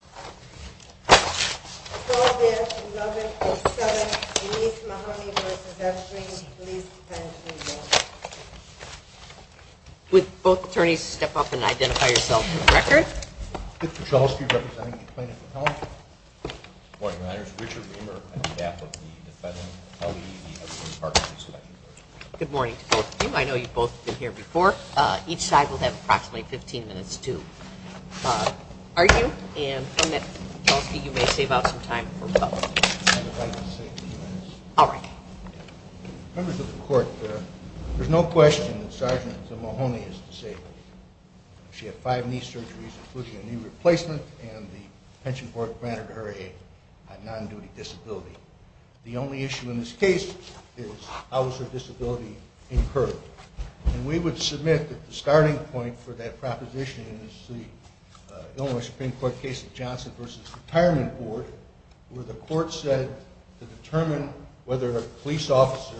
Good morning to both of you. I know you've both been here before. Each side will have approximately 15 minutes to argue, and I'm going to ask each of you to step up and identify yourselves. You may save out some time for both. Members of the Court, there's no question that Sgt. Zamohony is disabled. She had five knee surgeries, including a knee replacement, and the pension board granted her a non-duty disability. The only issue in this case is how was her disability incurred? And we would submit that the starting point for that proposition is the Illinois Supreme Court case of Johnson v. Retirement Board, where the Court said to determine whether a police officer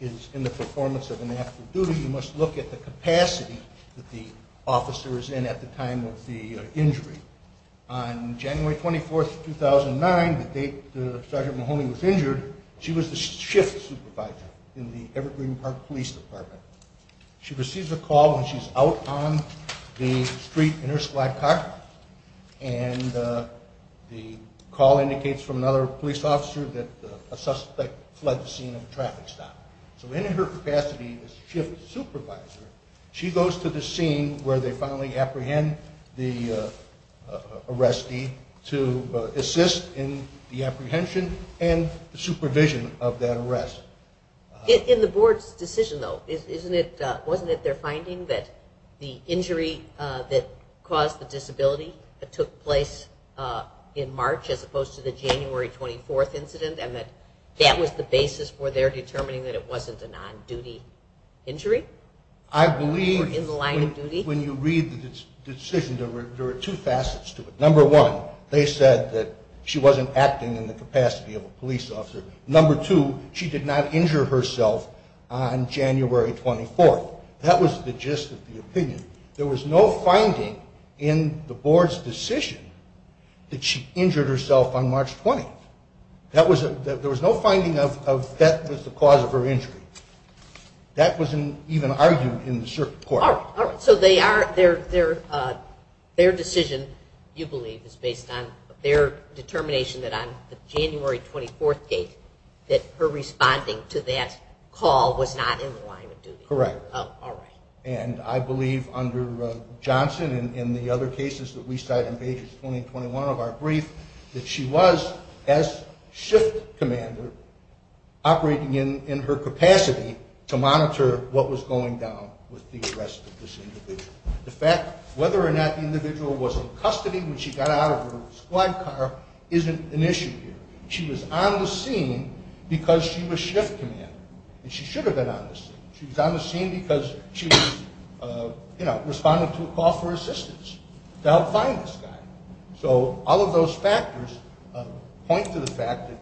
is in the performance of an after-duty, you must look at the capacity that the officer is in at the time of the injury. On January 24, 2009, the date Sgt. Zamohony was injured, she was the shift supervisor in the Evergreen Park Police Department. She receives a call when she's out on the street in her squad car, and the call indicates from another police officer that a suspect fled the scene of a traffic stop. So in her capacity as shift supervisor, she goes to the scene where they finally apprehend the arrestee to assist in the apprehension and supervision of that arrest. In the board's decision, though, wasn't it their finding that the injury that caused the disability took place in March as opposed to the January 24 incident, and that that was the basis for their determining that it wasn't a non-duty injury? I believe when you read the decision, there are two facets to it. Number one, they said that she wasn't acting in the capacity of a police officer. Number two, she did not injure herself on January 24. That was the gist of the opinion. There was no finding in the board's decision that she injured herself on March 20. There was no finding that that was the cause of her injury. That wasn't even argued in the circuit court. All right. So their decision, you believe, is based on their determination that on the January 24 date that her responding to that call was not in the line of duty? Correct. All right. And I believe under Johnson and the other cases that we cite in pages 20 and 21 of our brief that she was, as shift commander, operating in her capacity to monitor what was going down with the arrest of this individual. The fact whether or not the individual was in custody when she got out of her squad car isn't an issue here. She was on the scene because she was shift commander, and she should have been on the scene. She was on the scene because she was responding to a call for assistance to help find this guy. So all of those factors point to the fact that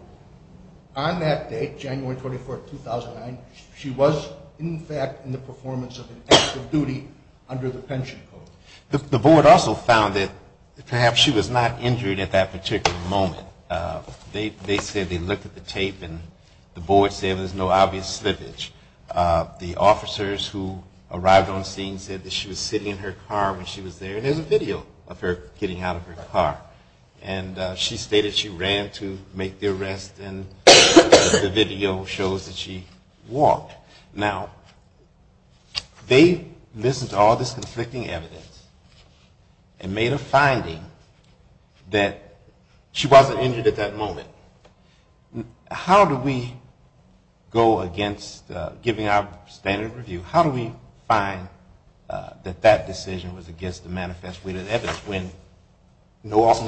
on that date, January 24, 2009, she was, in fact, in the performance of an active duty under the pension code. The board also found that perhaps she was not injured at that particular moment. They said they looked at the tape, and the board said there's no obvious slippage. The officers who arrived on scene said that she was sitting in her car when she was there, and there's a video of her getting out of her car. And she stated she ran to make the arrest, and the video shows that she walked. Now, they listened to all this conflicting evidence and made a finding that she wasn't injured at that moment. How do we go against giving our standard of review? How do we find that that decision was against the manifest witness evidence? First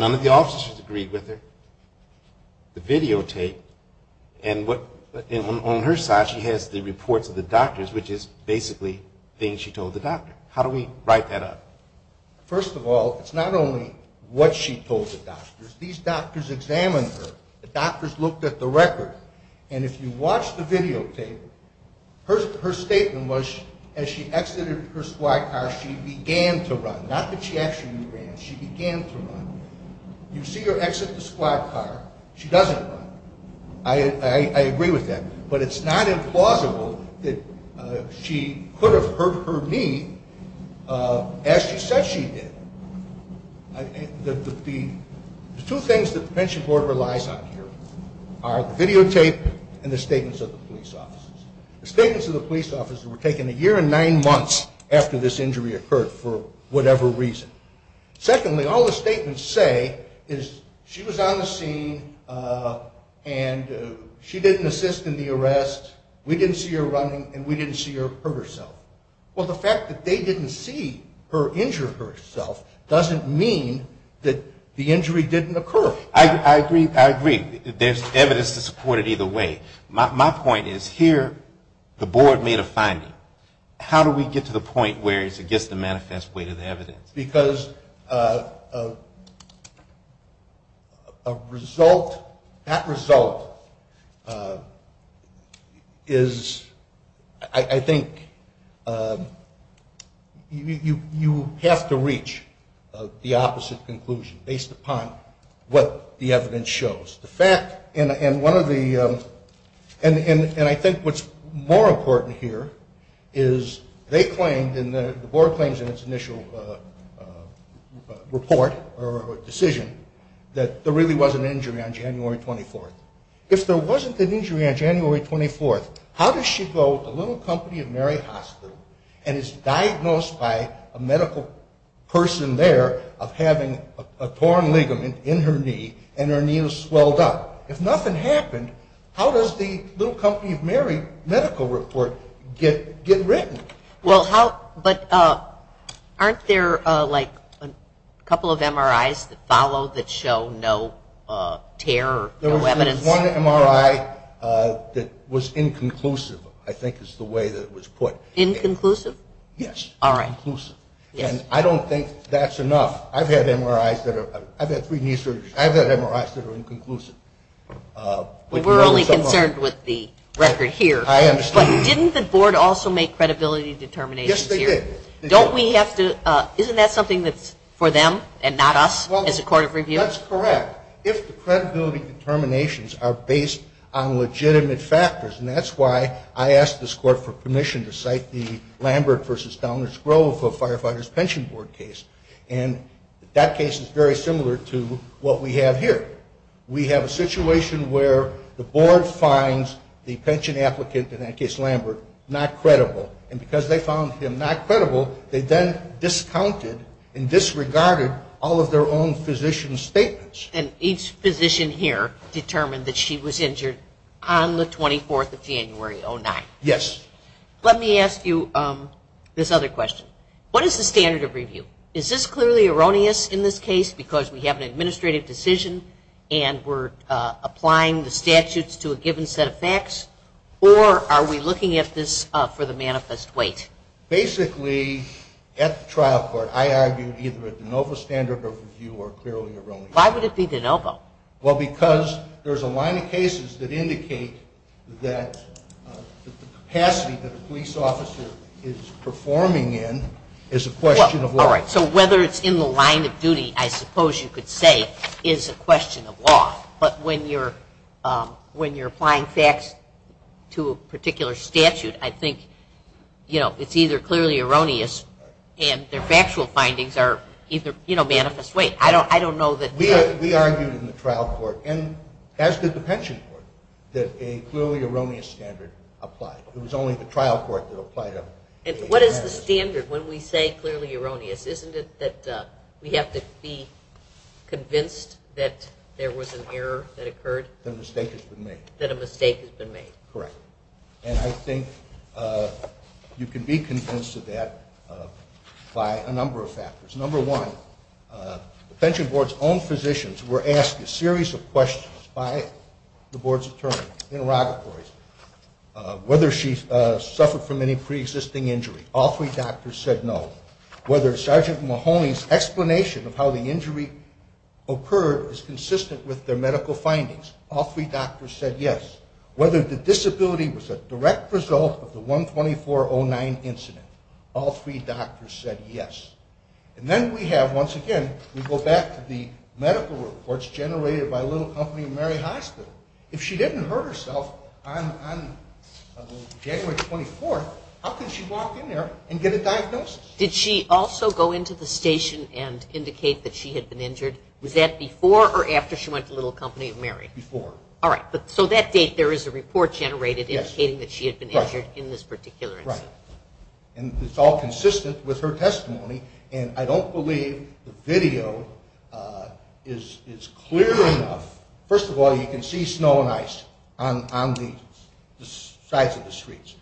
of all, it's not only what she told the doctors. These doctors examined her. The doctors looked at the record, and if you watch the videotape, her statement was as she exited her squad car, she began to run. Not that she actually ran, but she began to run. You see her exit the squad car. She doesn't run. I agree with that, but it's not implausible that she could have hurt her knee as she said she did. The two things that the pension board relies on here are the videotape and the statements of the police officers. The statements of the police officers were taken a year and nine months after this injury occurred for whatever reason. Secondly, all the statements say is she was on the scene, and she didn't assist in the arrest. We didn't see her running, and we didn't see her hurt herself. Well, the fact that they didn't see her injure herself doesn't mean that the injury didn't occur. I agree. There's evidence to support it either way. My point is here the board made a finding. How do we get to the point where it's against the manifest witness evidence? Because a result, that result is, I think, you have to reach the opposite conclusion based upon what the evidence shows. The fact, and one of the, and I think what's more important here is they claimed, and the board claims in its initial report or decision, that there really was an injury on January 24th. If there wasn't an injury on January 24th, how does she go to the Little Company of Mary Hospital and is diagnosed by a medical person there of having a torn ligament in her knee and her knee was swelled up? If nothing happened, how does the Little Company of Mary medical report get written? Well, how, but aren't there like a couple of MRIs that follow that show no tear or no evidence? There was one MRI that was inconclusive, I think is the way that it was put. Inconclusive? Yes, inconclusive. And I don't think that's enough. I've had MRIs that are, I've had three knee surgeries, I've had MRIs that are inconclusive. We were only concerned with the record here. I understand. But didn't the board also make credibility determinations here? Yes, they did. Don't we have to, isn't that something that's for them and not us as a court of review? That's correct. If the credibility determinations are based on legitimate factors, and that's why I asked this court for permission to cite the Lambert v. Downers Grove for Firefighters Pension Board case. And that case is very similar to what we have here. We have a situation where the board finds the pension applicant in that case, Lambert, not credible. And because they found him not credible, they then discounted and disregarded all of their own physician statements. And each physician here determined that she was injured on the 24th of January, 2009. Yes. Let me ask you this other question. What is the standard of review? Is this clearly erroneous in this case because we have an administrative decision and we're applying the statutes to a given set of facts? Or are we looking at this for the manifest weight? Basically, at the trial court, I argued either a de novo standard of review or clearly erroneous. Why would it be de novo? Well, because there's a line of cases that indicate that the capacity that a police officer is performing in is a question of law. But when you're applying facts to a particular statute, I think, you know, it's either clearly erroneous and their factual findings are either, you know, manifest weight. I don't know that… And what is the standard when we say clearly erroneous? Isn't it that we have to be convinced that there was an error that occurred? That a mistake has been made. were asked a series of questions by the board's attorneys, interrogatories, whether she suffered from any preexisting injury. All three doctors said no. Whether Sergeant Mahoney's explanation of how the injury occurred is consistent with their medical findings. All three doctors said yes. Whether the disability was a direct result of the 12409 incident. All three doctors said yes. And then we have, once again, we go back to the medical reports generated by Little Company of Mary Hospital. If she didn't hurt herself on January 24th, how could she walk in there and get a diagnosis? Did she also go into the station and indicate that she had been injured? Was that before or after she went to Little Company of Mary? Before. All right. So that date there is a report generated indicating that she had been injured in this particular incident. Right. And it's all consistent with her testimony. And I don't believe the video is clear enough. First of all, you can see snow and ice on the sides of the streets.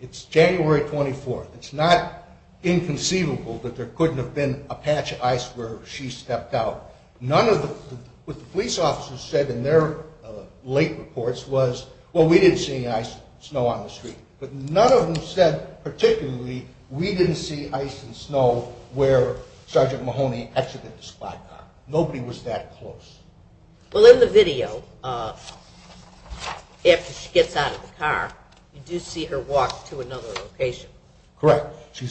It's January 24th. It's not inconceivable that there couldn't have been a patch of ice where she stepped out. What the police officers said in their late reports was, well, we didn't see any ice or snow on the street. But none of them said particularly we didn't see ice and snow where Sergeant Mahoney exited the squad car. Nobody was that close. Well, in the video, after she gets out of the car, you do see her walk to another location. Correct. She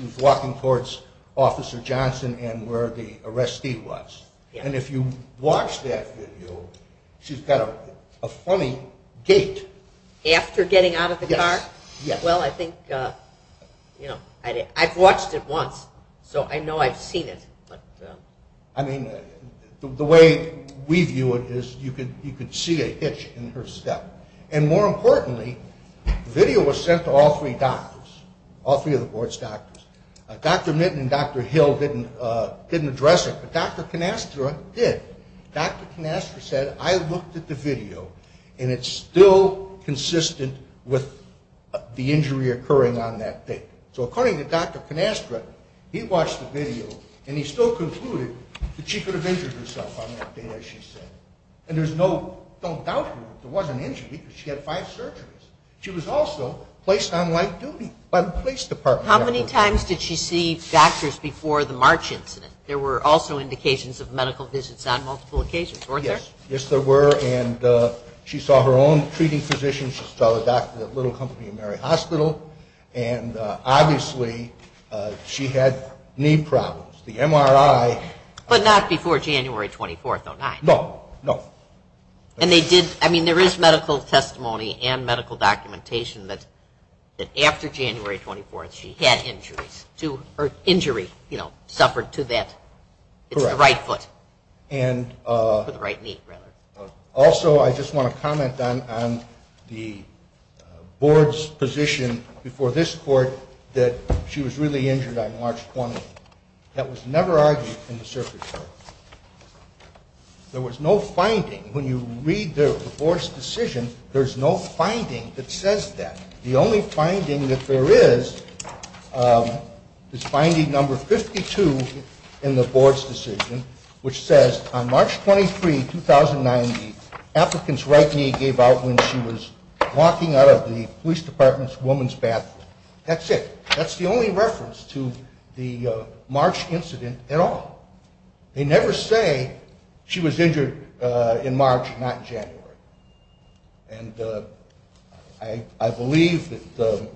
was walking towards Officer Johnson and where the arrestee was. And if you watch that video, she's got a funny gait. After getting out of the car? Yes. Well, I think, you know, I've watched it once, so I know I've seen it. I mean, the way we view it is you could see a hitch in her step. And more importantly, the video was sent to all three doctors, all three of the board's doctors. Dr. Mitton and Dr. Hill didn't address it, but Dr. Canastra did. Dr. Canastra said, I looked at the video, and it's still consistent with the injury occurring on that day. So according to Dr. Canastra, he watched the video, and he still concluded that she could have injured herself on that day, as she said. And there's no doubt here that there was an injury because she had five surgeries. She was also placed on life duty by the police department. How many times did she see doctors before the March incident? There were also indications of medical visits on multiple occasions, weren't there? Yes, there were. And she saw her own treating physician. She saw the doctor at Little Company of Mary Hospital. And obviously, she had knee problems. The MRI. But not before January 24th or 9th. No, no. And they did, I mean, there is medical testimony and medical documentation that after January 24th, she had injuries. Her injury, you know, suffered to that. It's the right foot. Correct. Or the right knee, rather. Also, I just want to comment on the board's position before this court that she was really injured on March 20th. That was never argued in the circuit court. There was no finding. When you read the board's decision, there's no finding that says that. The only finding that there is is finding number 52 in the board's decision, which says, on March 23, 2009, the applicant's right knee gave out when she was walking out of the police department's woman's bathroom. That's it. That's the only reference to the March incident at all. They never say she was injured in March, not January. And I believe that,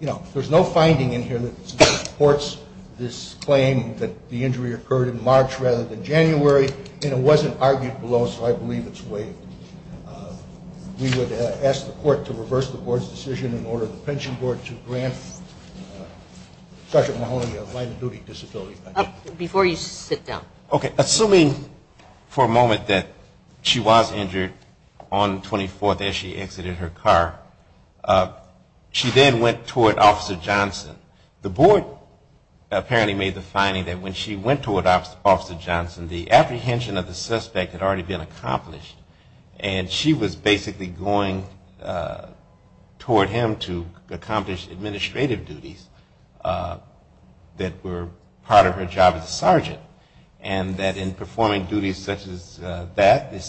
you know, there's no finding in here that supports this claim that the injury occurred in March rather than January. And it wasn't argued below, so I believe it's waived. We would ask the court to reverse the board's decision and order the pension board to grant Sergeant Mahoney a line of duty disability. Before you sit down. Okay. Assuming for a moment that she was injured on 24th as she exited her car, she then went toward Officer Johnson. The board apparently made the finding that when she went toward Officer Johnson, the apprehension of the suspect had already been accomplished. And she was basically going toward him to accomplish administrative duties that were part of her job as a sergeant. And that in performing duties such as that is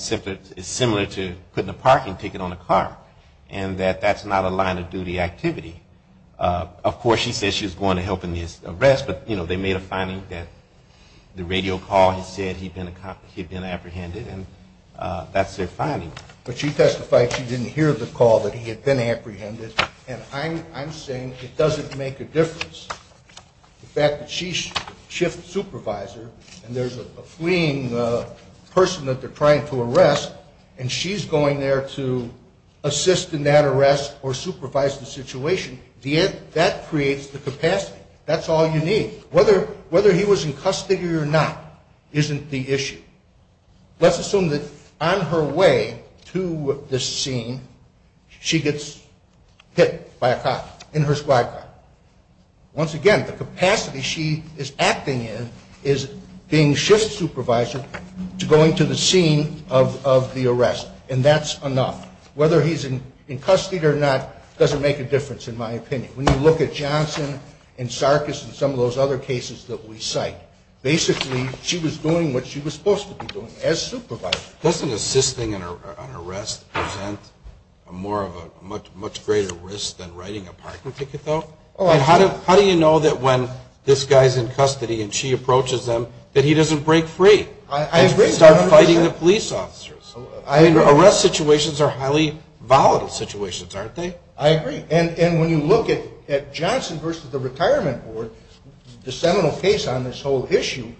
similar to putting a parking ticket on a car, and that that's not a line of duty activity. Of course, she said she was going to help in his arrest, but, you know, they made a finding that the radio call had said he'd been apprehended, and that's their finding. But she testified she didn't hear the call that he had been apprehended, and I'm saying it doesn't make a difference. The fact that she's shift supervisor, and there's a fleeing person that they're trying to arrest, and she's going there to assist in that arrest or supervise the situation, that creates the capacity. That's all you need. Whether he was in custody or not isn't the issue. Let's assume that on her way to this scene, she gets hit by a cop in her squad car. Once again, the capacity she is acting in is being shift supervisor to going to the scene of the arrest, and that's enough. Whether he's in custody or not doesn't make a difference in my opinion. When you look at Johnson and Sarkis and some of those other cases that we cite, basically she was doing what she was supposed to be doing as supervisor. Doesn't assisting an arrest present a much greater risk than writing a parking ticket, though? How do you know that when this guy's in custody and she approaches him that he doesn't break free and start fighting the police officers? Arrest situations are highly volatile situations, aren't they? I agree. And when you look at Johnson versus the Retirement Board, the seminal case on this whole issue,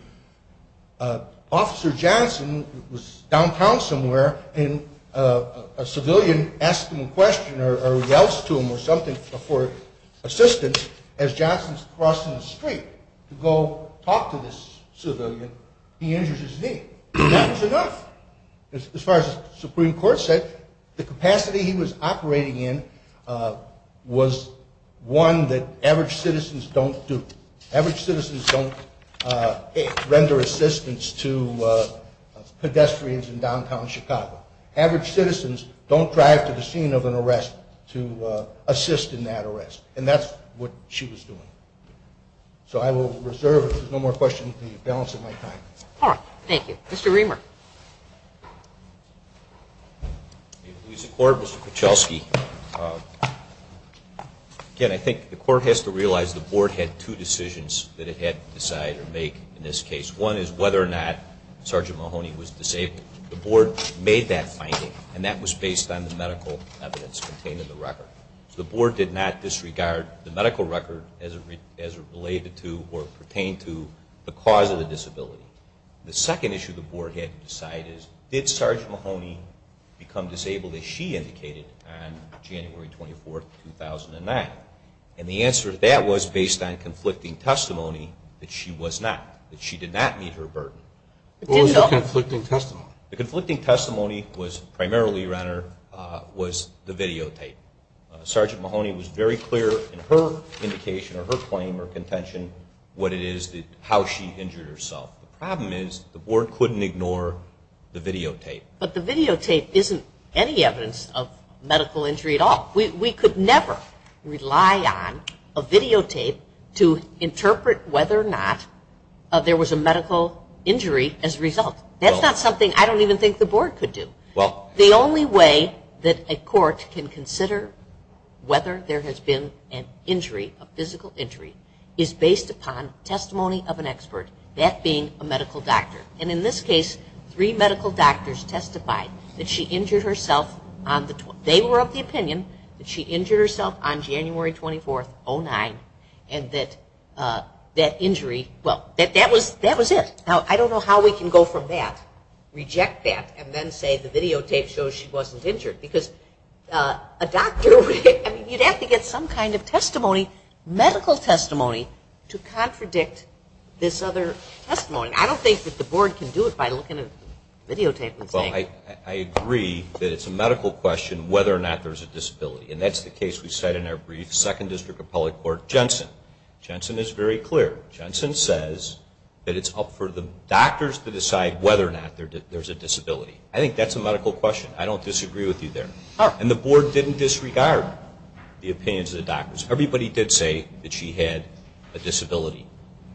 Officer Johnson was downtown somewhere, and a civilian asked him a question or yells to him or something for assistance. As Johnson's crossing the street to go talk to this civilian, he injures his knee. That's enough. As far as the Supreme Court said, the capacity he was operating in was one that average citizens don't do. Average citizens don't render assistance to pedestrians in downtown Chicago. Average citizens don't drive to the scene of an arrest to assist in that arrest. And that's what she was doing. So I will reserve, if there's no more questions, the balance of my time. All right. Thank you. Mr. Reamer. In the police court, Mr. Kuchelski, again, I think the court has to realize the board had two decisions that it had to decide or make in this case. One is whether or not Sergeant Mahoney was disabled. The board made that finding, and that was based on the medical evidence contained in the record. So the board did not disregard the medical record as related to or pertained to the cause of the disability. The second issue the board had to decide is, did Sergeant Mahoney become disabled as she indicated on January 24, 2009? And the answer to that was based on conflicting testimony that she was not, that she did not meet her burden. What was the conflicting testimony? The conflicting testimony was primarily, Your Honor, was the videotape. Sergeant Mahoney was very clear in her indication or her claim or contention what it is that how she injured herself. The problem is the board couldn't ignore the videotape. But the videotape isn't any evidence of medical injury at all. We could never rely on a videotape to interpret whether or not there was a medical injury as a result. That's not something I don't even think the board could do. The only way that a court can consider whether there has been an injury, a physical injury, is based upon testimony of an expert, that being a medical doctor. And in this case, three medical doctors testified that she injured herself on the, they were of the opinion that she injured herself on January 24, 2009, and that that injury, well, that was it. Now, I don't know how we can go from that, reject that, and then say the videotape shows she wasn't injured. Because a doctor, I mean, you'd have to get some kind of testimony, medical testimony, to contradict this other testimony. I don't think that the board can do it by looking at the videotape and saying. Well, I agree that it's a medical question whether or not there's a disability. And that's the case we cite in our brief, 2nd District Appellate Court, Jensen. Jensen is very clear. Jensen says that it's up for the doctors to decide whether or not there's a disability. I think that's a medical question. I don't disagree with you there. And the board didn't disregard the opinions of the doctors. Everybody did say that she had a disability.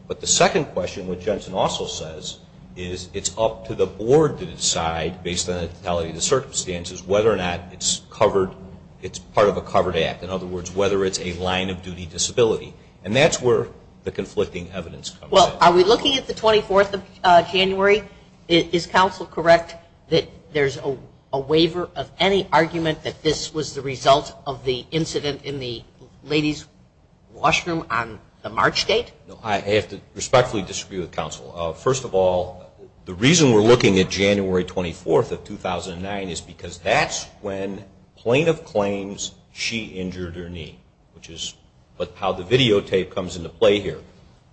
But the second question, which Jensen also says, is it's up to the board to decide, based on the totality of the circumstances, whether or not it's covered, it's part of a covered act. In other words, whether it's a line-of-duty disability. And that's where the conflicting evidence comes in. Well, are we looking at the 24th of January? Is counsel correct that there's a waiver of any argument that this was the result of the incident in the ladies' washroom on the March date? I have to respectfully disagree with counsel. First of all, the reason we're looking at January 24th of 2009 is because that's when plaintiff claims she injured her knee, which is how the videotape comes into play here.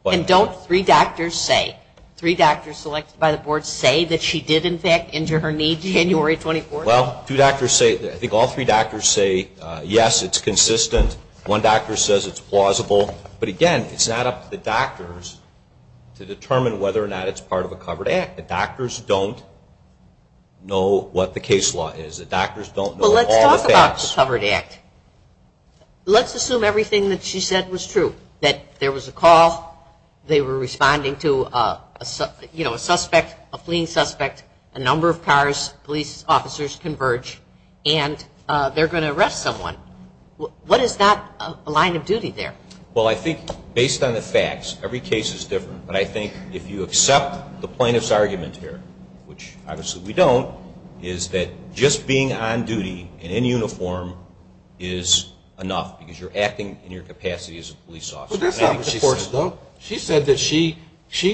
And don't three doctors say, three doctors selected by the board say, that she did, in fact, injure her knee January 24th? Well, I think all three doctors say, yes, it's consistent. One doctor says it's plausible. But, again, it's not up to the doctors to determine whether or not it's part of a covered act. The doctors don't know what the case law is. The doctors don't know all the facts. Well, let's talk about the covered act. Let's assume everything that she said was true, that there was a call, they were responding to a suspect, a fleeing suspect, a number of cars, police officers converge, and they're going to arrest someone. What is not a line-of-duty there? Well, I think based on the facts, every case is different. But I think if you accept the plaintiff's argument here, which obviously we don't, is that just being on duty in uniform is enough because you're acting in your capacity as a police officer. But that's not what she said, though. She said that she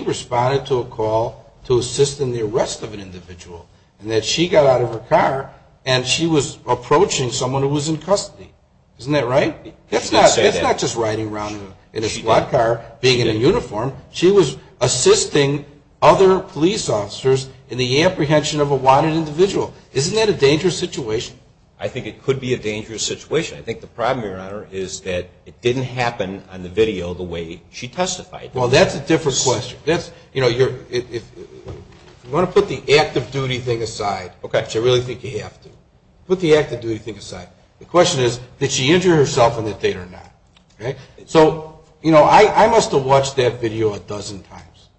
responded to a call to assist in the arrest of an individual and that she got out of her car and she was approaching someone who was in custody. Isn't that right? It's not just riding around in a squad car, being in a uniform. She was assisting other police officers in the apprehension of a wanted individual. Isn't that a dangerous situation? I think it could be a dangerous situation. I think the problem, Your Honor, is that it didn't happen on the video the way she testified. Well, that's a different question. If you want to put the active duty thing aside, which I really think you have to, put the active duty thing aside. The question is, did she injure herself on that date or not? So, you know, I must have watched that video a dozen times.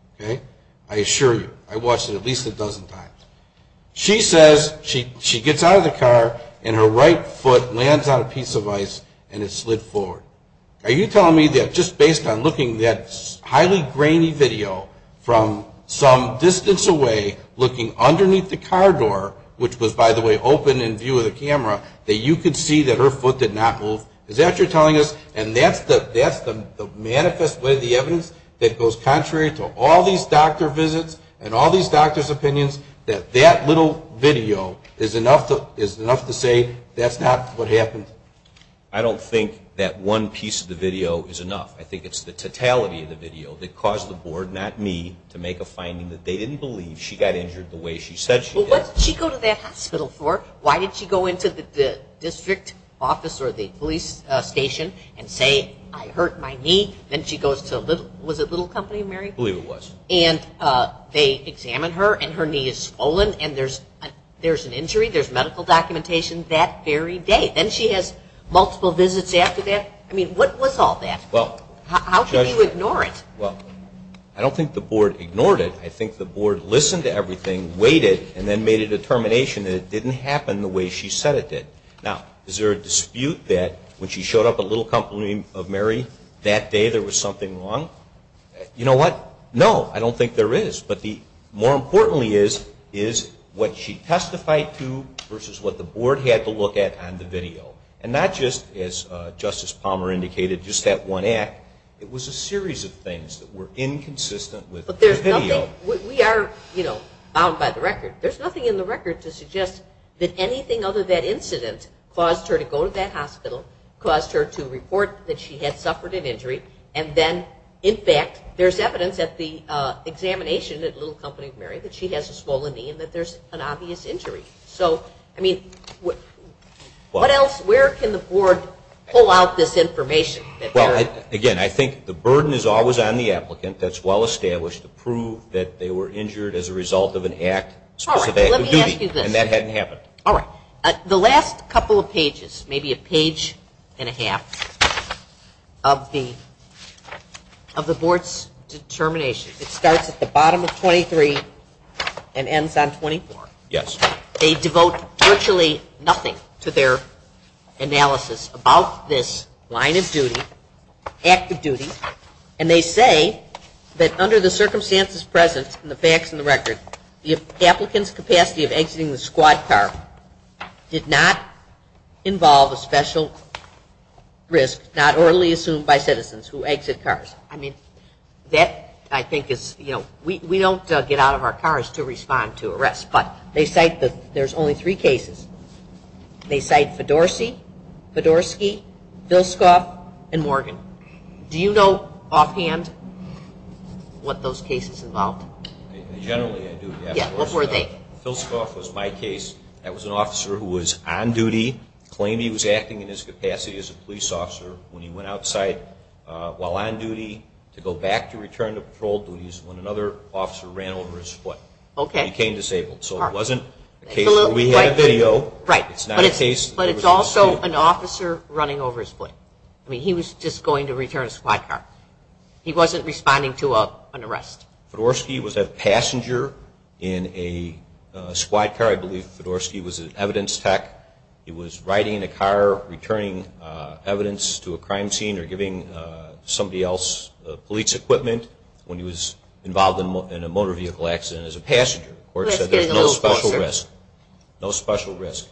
I assure you, I watched it at least a dozen times. She says she gets out of the car and her right foot lands on a piece of ice and it slid forward. Are you telling me that just based on looking at that highly grainy video from some distance away, looking underneath the car door, which was, by the way, open in view of the camera, that you could see that her foot did not move? Is that what you're telling us? And that's the manifest way of the evidence that goes contrary to all these doctor visits and all these doctors' opinions, that that little video is enough to say that's not what happened? I don't think that one piece of the video is enough. I think it's the totality of the video that caused the board, not me, to make a finding that they didn't believe she got injured the way she said she did. Well, what did she go to that hospital for? Why did she go into the district office or the police station and say, I hurt my knee? Then she goes to, was it Little Company, Mary? I believe it was. And they examine her and her knee is swollen and there's an injury. There's medical documentation that very day. Then she has multiple visits after that. I mean, what was all that? How could you ignore it? Well, I don't think the board ignored it. I think the board listened to everything, waited, and then made a determination that it didn't happen the way she said it did. Now, is there a dispute that when she showed up at Little Company of Mary, that day there was something wrong? You know what? No, I don't think there is. But more importantly is what she testified to versus what the board had to look at on the video. And not just, as Justice Palmer indicated, just that one act. It was a series of things that were inconsistent with the video. We are, you know, bound by the record. There's nothing in the record to suggest that anything other than that incident caused her to go to that hospital, caused her to report that she had suffered an injury, and then, in fact, there's evidence at the examination at Little Company of Mary that she has a swollen knee and that there's an obvious injury. So, I mean, what else? Where can the board pull out this information? Well, again, I think the burden is always on the applicant. That's well established to prove that they were injured as a result of an act. All right. Let me ask you this. And that hadn't happened. All right. The last couple of pages, maybe a page and a half of the board's determination, it starts at the bottom of 23 and ends on 24. Yes. They devote virtually nothing to their analysis about this line of duty, act of duty, and they say that under the circumstances present in the facts in the record, the applicant's capacity of exiting the squad car did not involve a special risk, not orally assumed by citizens who exit cars. I mean, that, I think, is, you know, we don't get out of our cars to respond to arrests, but they cite that there's only three cases. They cite Fedorsky, Vilskoff, and Morgan. Do you know offhand what those cases involved? Generally, I do. Yeah. What were they? Vilskoff was my case. That was an officer who was on duty, claimed he was acting in his capacity as a police officer when he went outside while on duty to go back to return to patrol duties when another officer ran over his foot. Okay. He became disabled. So it wasn't a case where we had a video. Right. But it's also an officer running over his foot. I mean, he was just going to return a squad car. He wasn't responding to an arrest. Fedorsky was a passenger in a squad car. I believe Fedorsky was an evidence tech. He was riding in a car returning evidence to a crime scene or giving somebody else police equipment when he was involved in a motor vehicle accident as a passenger. The court said there's no special risk. No special risk.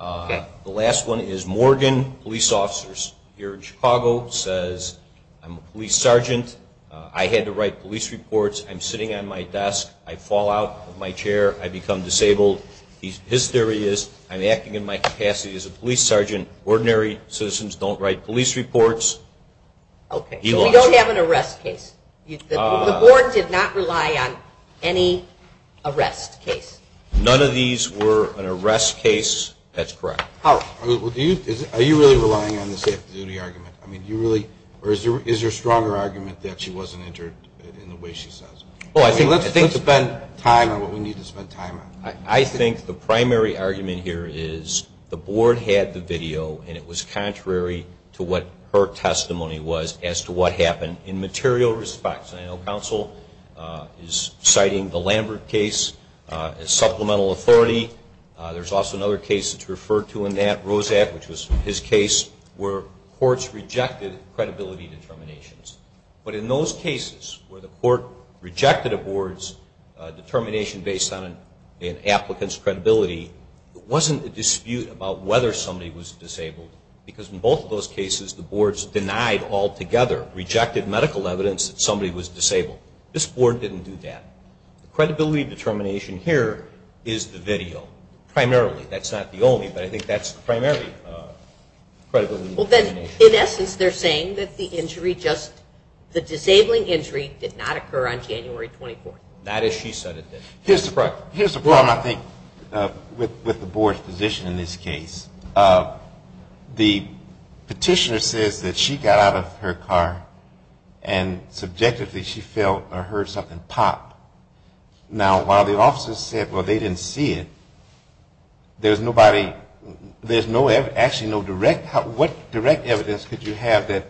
Okay. The last one is Morgan Police Officers here in Chicago says, I'm a police sergeant. I had to write police reports. I'm sitting at my desk. I fall out of my chair. I become disabled. His theory is I'm acting in my capacity as a police sergeant. Ordinary citizens don't write police reports. Okay. We don't have an arrest case. The board did not rely on any arrest case. None of these were an arrest case. That's correct. Howard? Are you really relying on the safety duty argument? I mean, do you really? Or is there a stronger argument that she wasn't injured in the way she says? Well, I think let's spend time on what we need to spend time on. I think the primary argument here is the board had the video, and it was contrary to what her testimony was as to what happened in material respects. I know counsel is citing the Lambert case as supplemental authority. There's also another case that's referred to in that, Rosak, which was his case where courts rejected credibility determinations. But in those cases where the court rejected a board's determination based on an applicant's credibility, it wasn't a dispute about whether somebody was disabled because in both of those cases the boards denied altogether, rejected medical evidence that somebody was disabled. This board didn't do that. Credibility determination here is the video primarily. That's not the only, but I think that's the primary credibility determination. Well, then in essence they're saying that the injury just, the disabling injury did not occur on January 24th. Not as she said it did. Here's the problem, I think, with the board's position in this case. The petitioner says that she got out of her car and subjectively she felt or heard something pop. Now, while the officers said, well, they didn't see it, there's nobody, there's actually no direct, what direct evidence could you have that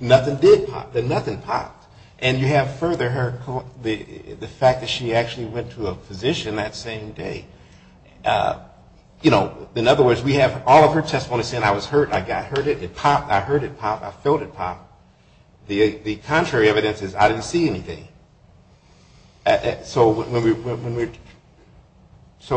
nothing did pop, that nothing popped? And you have further the fact that she actually went to a physician that same day. You know, in other words, we have all of her testimony saying I was hurt, I got hurt, I heard it pop, I felt it pop. The contrary evidence is I didn't see anything. So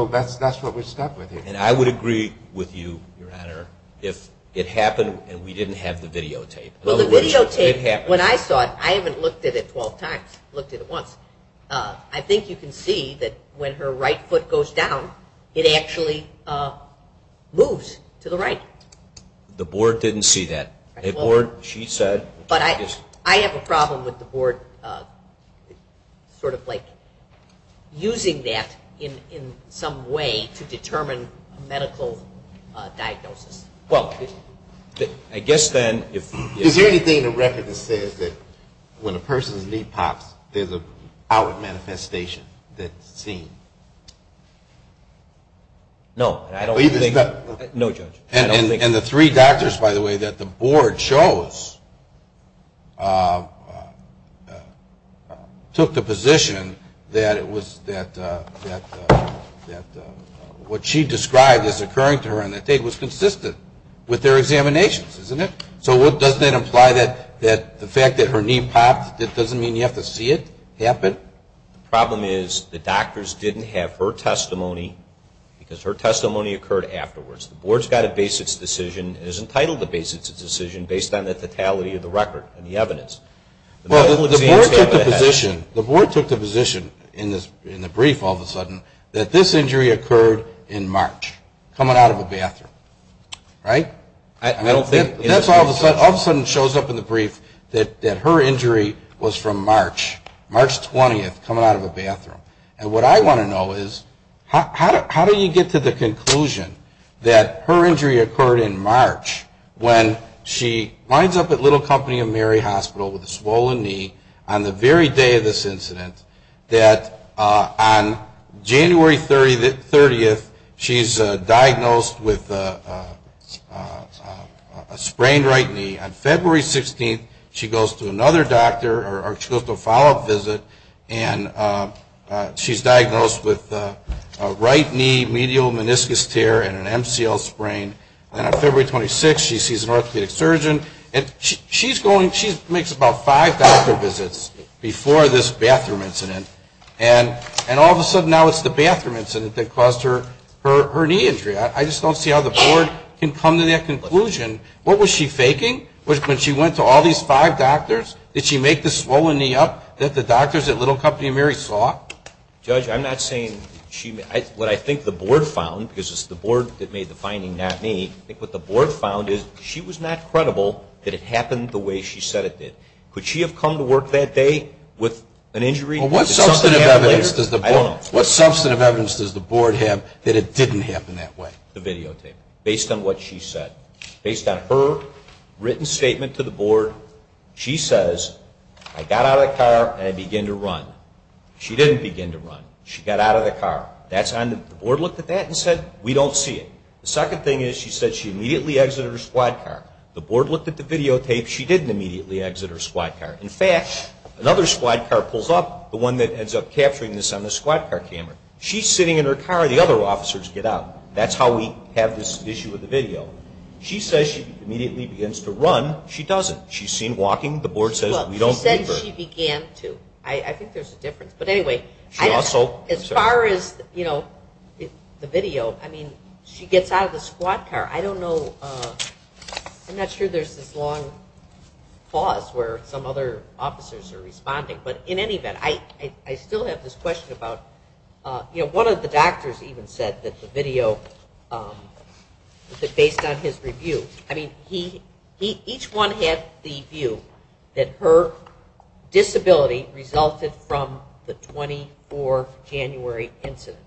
that's what we're stuck with here. And I would agree with you, Your Honor, if it happened and we didn't have the videotape. Well, the videotape, when I saw it, I haven't looked at it 12 times, looked at it once. I think you can see that when her right foot goes down, it actually moves to the right. The board didn't see that. The board, she said. But I have a problem with the board sort of like using that in some way to determine a medical diagnosis. Well, I guess then if you. Is there anything in the record that says that when a person's knee pops, there's an outward manifestation that's seen? No, I don't think. And the three doctors, by the way, that the board chose took the position that it was that what she described as occurring to her on that day was consistent with their examinations, isn't it? So doesn't that imply that the fact that her knee popped, that doesn't mean you have to see it happen? The problem is the doctors didn't have her testimony because her testimony occurred afterwards. The board's got to base its decision. It is entitled to base its decision based on the totality of the record and the evidence. The board took the position in the brief all of a sudden that this injury occurred in March, coming out of a bathroom, right? That all of a sudden shows up in the brief that her injury was from March, March 20th, coming out of a bathroom. And what I want to know is how do you get to the conclusion that her injury occurred in March when she winds up at Little Company of Mary Hospital with a swollen knee on the very day of this incident that on January 30th she's diagnosed with a sprained right knee. On February 16th she goes to another doctor or she goes to a follow-up visit and she's diagnosed with a right knee medial meniscus tear and an MCL sprain. And on February 26th she sees an orthopedic surgeon. She makes about five doctor visits before this bathroom incident and all of a sudden now it's the bathroom incident that caused her knee injury. I just don't see how the board can come to that conclusion. What was she faking when she went to all these five doctors? Did she make the swollen knee up that the doctors at Little Company of Mary saw? Judge, I'm not saying what I think the board found because it's the board that made the finding, not me. I think what the board found is she was not credible that it happened the way she said it did. Could she have come to work that day with an injury? What substantive evidence does the board have that it didn't happen that way? The videotape, based on what she said. Based on her written statement to the board, she says, I got out of the car and I began to run. She didn't begin to run. She got out of the car. The board looked at that and said, we don't see it. The second thing is she said she immediately exited her squad car. The board looked at the videotape. She didn't immediately exit her squad car. In fact, another squad car pulls up, the one that ends up capturing this on the squad car camera. She's sitting in her car. The other officers get out. That's how we have this issue with the video. She says she immediately begins to run. She doesn't. She's seen walking. She said she began to. I think there's a difference. As far as the video, I mean, she gets out of the squad car. I don't know. I'm not sure there's this long pause where some other officers are responding. But in any event, I still have this question about, you know, one of the doctors even said that the video, based on his review, I mean, each one had the view that her disability resulted from the 24th January incident.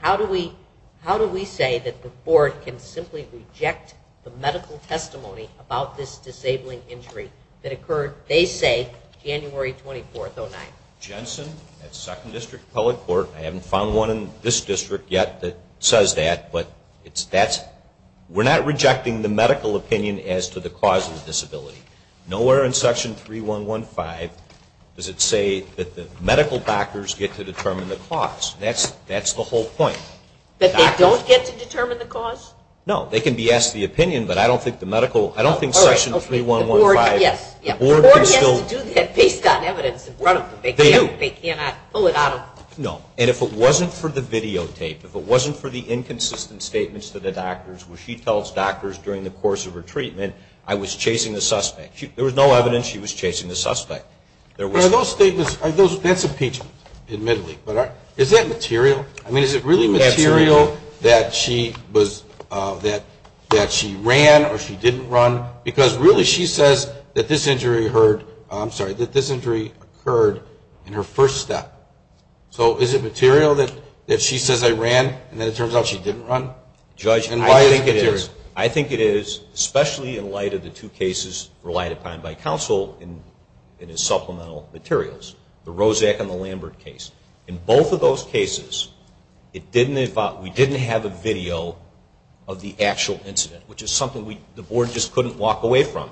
How do we say that the board can simply reject the medical testimony about this disabling injury that occurred, they say, January 24th, 2009? Jensen at 2nd District Public Court, I haven't found one in this district yet that says that, but we're not rejecting the medical opinion as to the cause of the disability. Nowhere in Section 3.1.1.5 does it say that the medical doctors get to determine the cause. That's the whole point. That they don't get to determine the cause? No. They can be asked the opinion, but I don't think the medical, I don't think Section 3.1.1.5. The board has to do that based on evidence in front of them. They do. They cannot pull it out of. No. And if it wasn't for the videotape, if it wasn't for the inconsistent statements to the doctors where she tells doctors during the course of her treatment, I was chasing the suspect. There was no evidence she was chasing the suspect. Those statements, that's impeachment, admittedly. But is that material? I mean, is it really material that she was, that she ran or she didn't run? Because really she says that this injury occurred in her first step. So is it material that she says I ran and then it turns out she didn't run? Judge, I think it is. I think it is, especially in light of the two cases relied upon by counsel in his supplemental materials, the Rozak and the Lambert case. In both of those cases, we didn't have a video of the actual incident, which is something the Board just couldn't walk away from.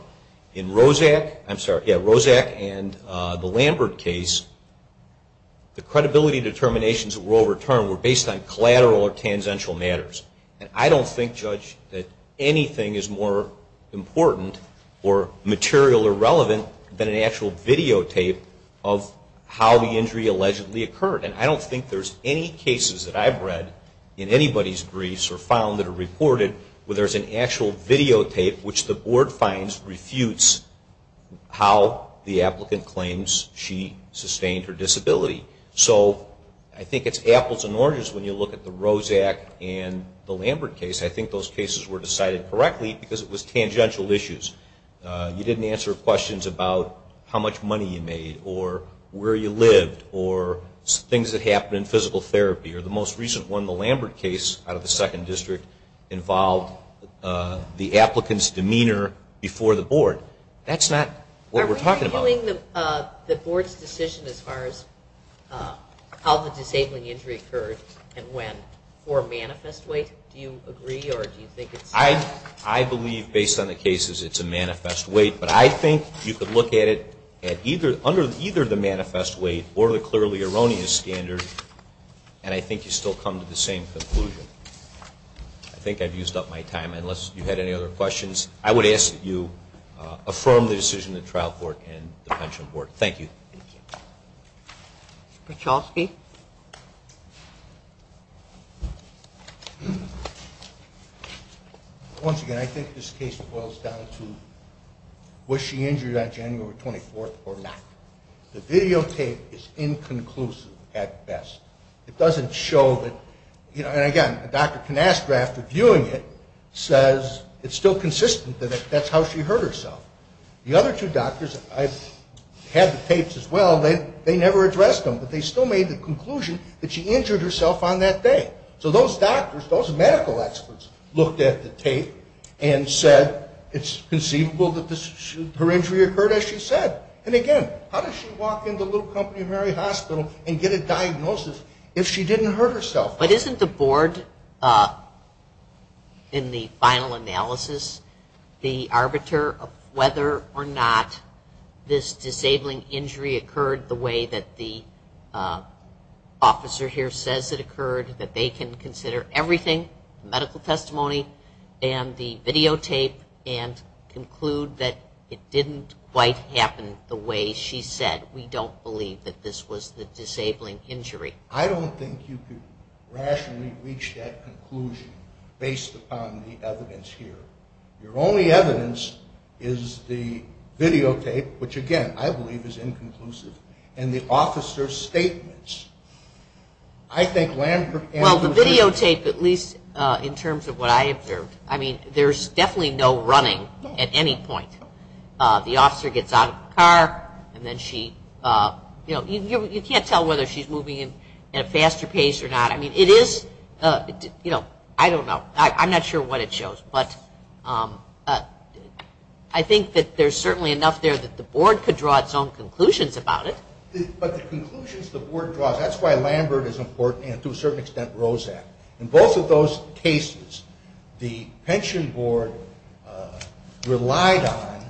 In Rozak and the Lambert case, the credibility determinations that were overturned were based on collateral or tangential matters. And I don't think, Judge, that anything is more important or material or relevant than an actual videotape of how the injury allegedly occurred. And I don't think there's any cases that I've read in anybody's briefs or found that are reported where there's an actual videotape, which the Board finds refutes how the applicant claims she sustained her disability. So I think it's apples and oranges when you look at the Rozak and the Lambert case. I think those cases were decided correctly because it was tangential issues. You didn't answer questions about how much money you made or where you lived or things that happened in physical therapy. Or the most recent one, the Lambert case out of the Second District, involved the applicant's demeanor before the Board. That's not what we're talking about. Are we reviewing the Board's decision as far as how the disabling injury occurred and when for manifest weight? Do you agree or do you think it's not? I believe, based on the cases, it's a manifest weight. But I think you could look at it under either the manifest weight or the clearly erroneous standard, and I think you still come to the same conclusion. I think I've used up my time. Unless you had any other questions, I would ask that you affirm the decision of the Trial Court and the Pension Board. Thank you. Thank you. Mr. Pachowski? Once again, I think this case boils down to was she injured on January 24th or not. The videotape is inconclusive at best. It doesn't show that, and again, Dr. Canastra, after viewing it, says it's still consistent that that's how she hurt herself. The other two doctors, I've had the tapes as well, they never addressed them, but they still made the conclusion that she injured herself on that day. So those doctors, those medical experts, looked at the tape and said it's conceivable that her injury occurred as she said. And again, how did she walk into Little Company of Mary Hospital and get a diagnosis if she didn't hurt herself? But isn't the board, in the final analysis, the arbiter of whether or not this disabling injury occurred the way that the officer here says it occurred, that they can consider everything, medical testimony and the videotape, and conclude that it didn't quite happen the way she said. We don't believe that this was the disabling injury. I don't think you could rationally reach that conclusion based upon the evidence here. Your only evidence is the videotape, which, again, I believe is inconclusive, and the officer's statements. Well, the videotape, at least in terms of what I observed, I mean, there's definitely no running at any point. The officer gets out of the car and then she, you know, you can't tell whether she's moving at a faster pace or not. I mean, it is, you know, I don't know. I'm not sure what it shows, but I think that there's certainly enough there that the board could draw its own conclusions about it. But the conclusions the board draws, that's why Lambert is important and to a certain extent Rozak. In both of those cases, the pension board relied on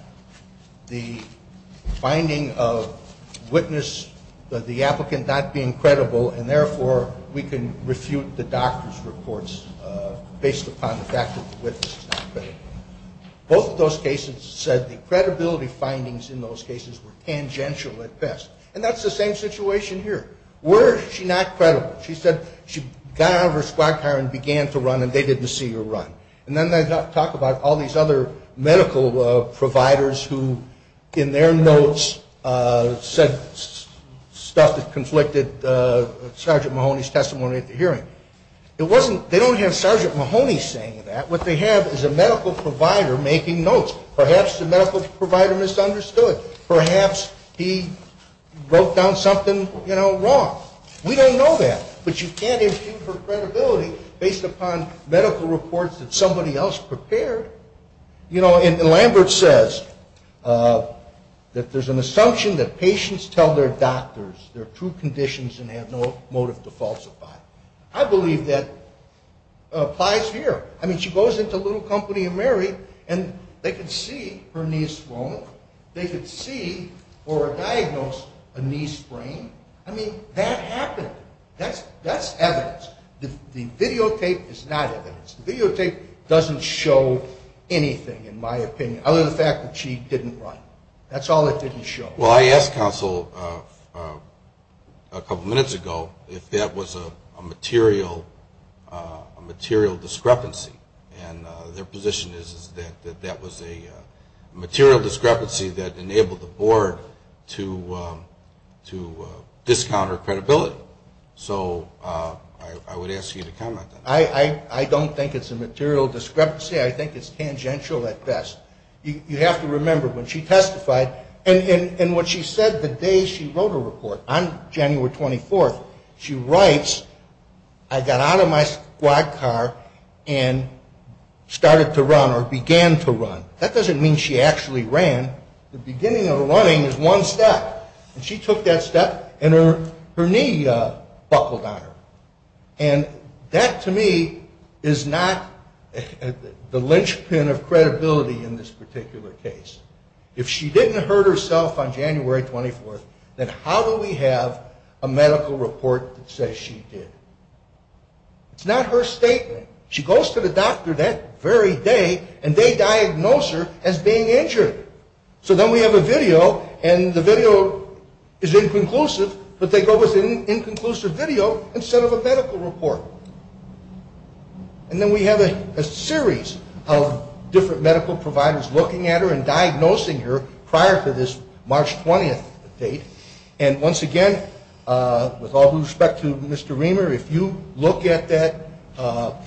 the finding of witness, the applicant not being credible, and therefore we can refute the doctor's reports based upon the fact that the witness is not credible. Both of those cases said the credibility findings in those cases were tangential at best. And that's the same situation here. Were she not credible? She said she got out of her squad car and began to run and they didn't see her run. And then they talk about all these other medical providers who, in their notes, said stuff that conflicted Sergeant Mahoney's testimony at the hearing. It wasn't they don't have Sergeant Mahoney saying that. What they have is a medical provider making notes. Perhaps the medical provider misunderstood. Perhaps he wrote down something, you know, wrong. We don't know that. But you can't impute her credibility based upon medical reports that somebody else prepared. You know, and Lambert says that there's an assumption that patients tell their doctors their true conditions and have no motive to falsify. I believe that applies here. I mean, she goes into Little Company and Mary and they can see her knee is swollen. They could see or diagnose a knee sprain. I mean, that happened. That's evidence. The videotape is not evidence. The videotape doesn't show anything, in my opinion, other than the fact that she didn't run. That's all it didn't show. Well, I asked counsel a couple minutes ago if that was a material discrepancy. And their position is that that was a material discrepancy that enabled the board to discount her credibility. So I would ask you to comment on that. I don't think it's a material discrepancy. I think it's tangential at best. You have to remember, when she testified, and what she said the day she wrote her report, on January 24th, she writes, I got out of my squad car and started to run or began to run. That doesn't mean she actually ran. The beginning of running is one step. And she took that step and her knee buckled on her. And that, to me, is not the linchpin of credibility in this particular case. If she didn't hurt herself on January 24th, then how do we have a medical report that says she did? It's not her statement. She goes to the doctor that very day, and they diagnose her as being injured. So then we have a video, and the video is inconclusive, but they go with an inconclusive video instead of a medical report. And then we have a series of different medical providers looking at her and diagnosing her prior to this March 20th date. And once again, with all due respect to Mr. Reamer, if you look at that,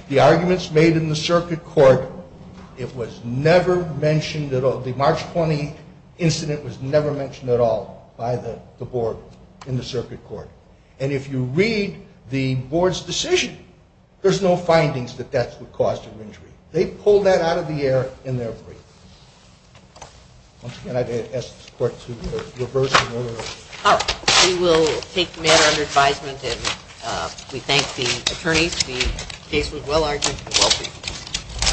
the arguments made in the circuit court, it was never mentioned at all. The March 20 incident was never mentioned at all by the board in the circuit court. And if you read the board's decision, there's no findings that that's what caused her injury. They pulled that out of the air in their brief. Once again, I'd ask the court to reverse the order. All right. We will take the matter under advisement, and we thank the attorneys. The case was well-argued and well-briefed.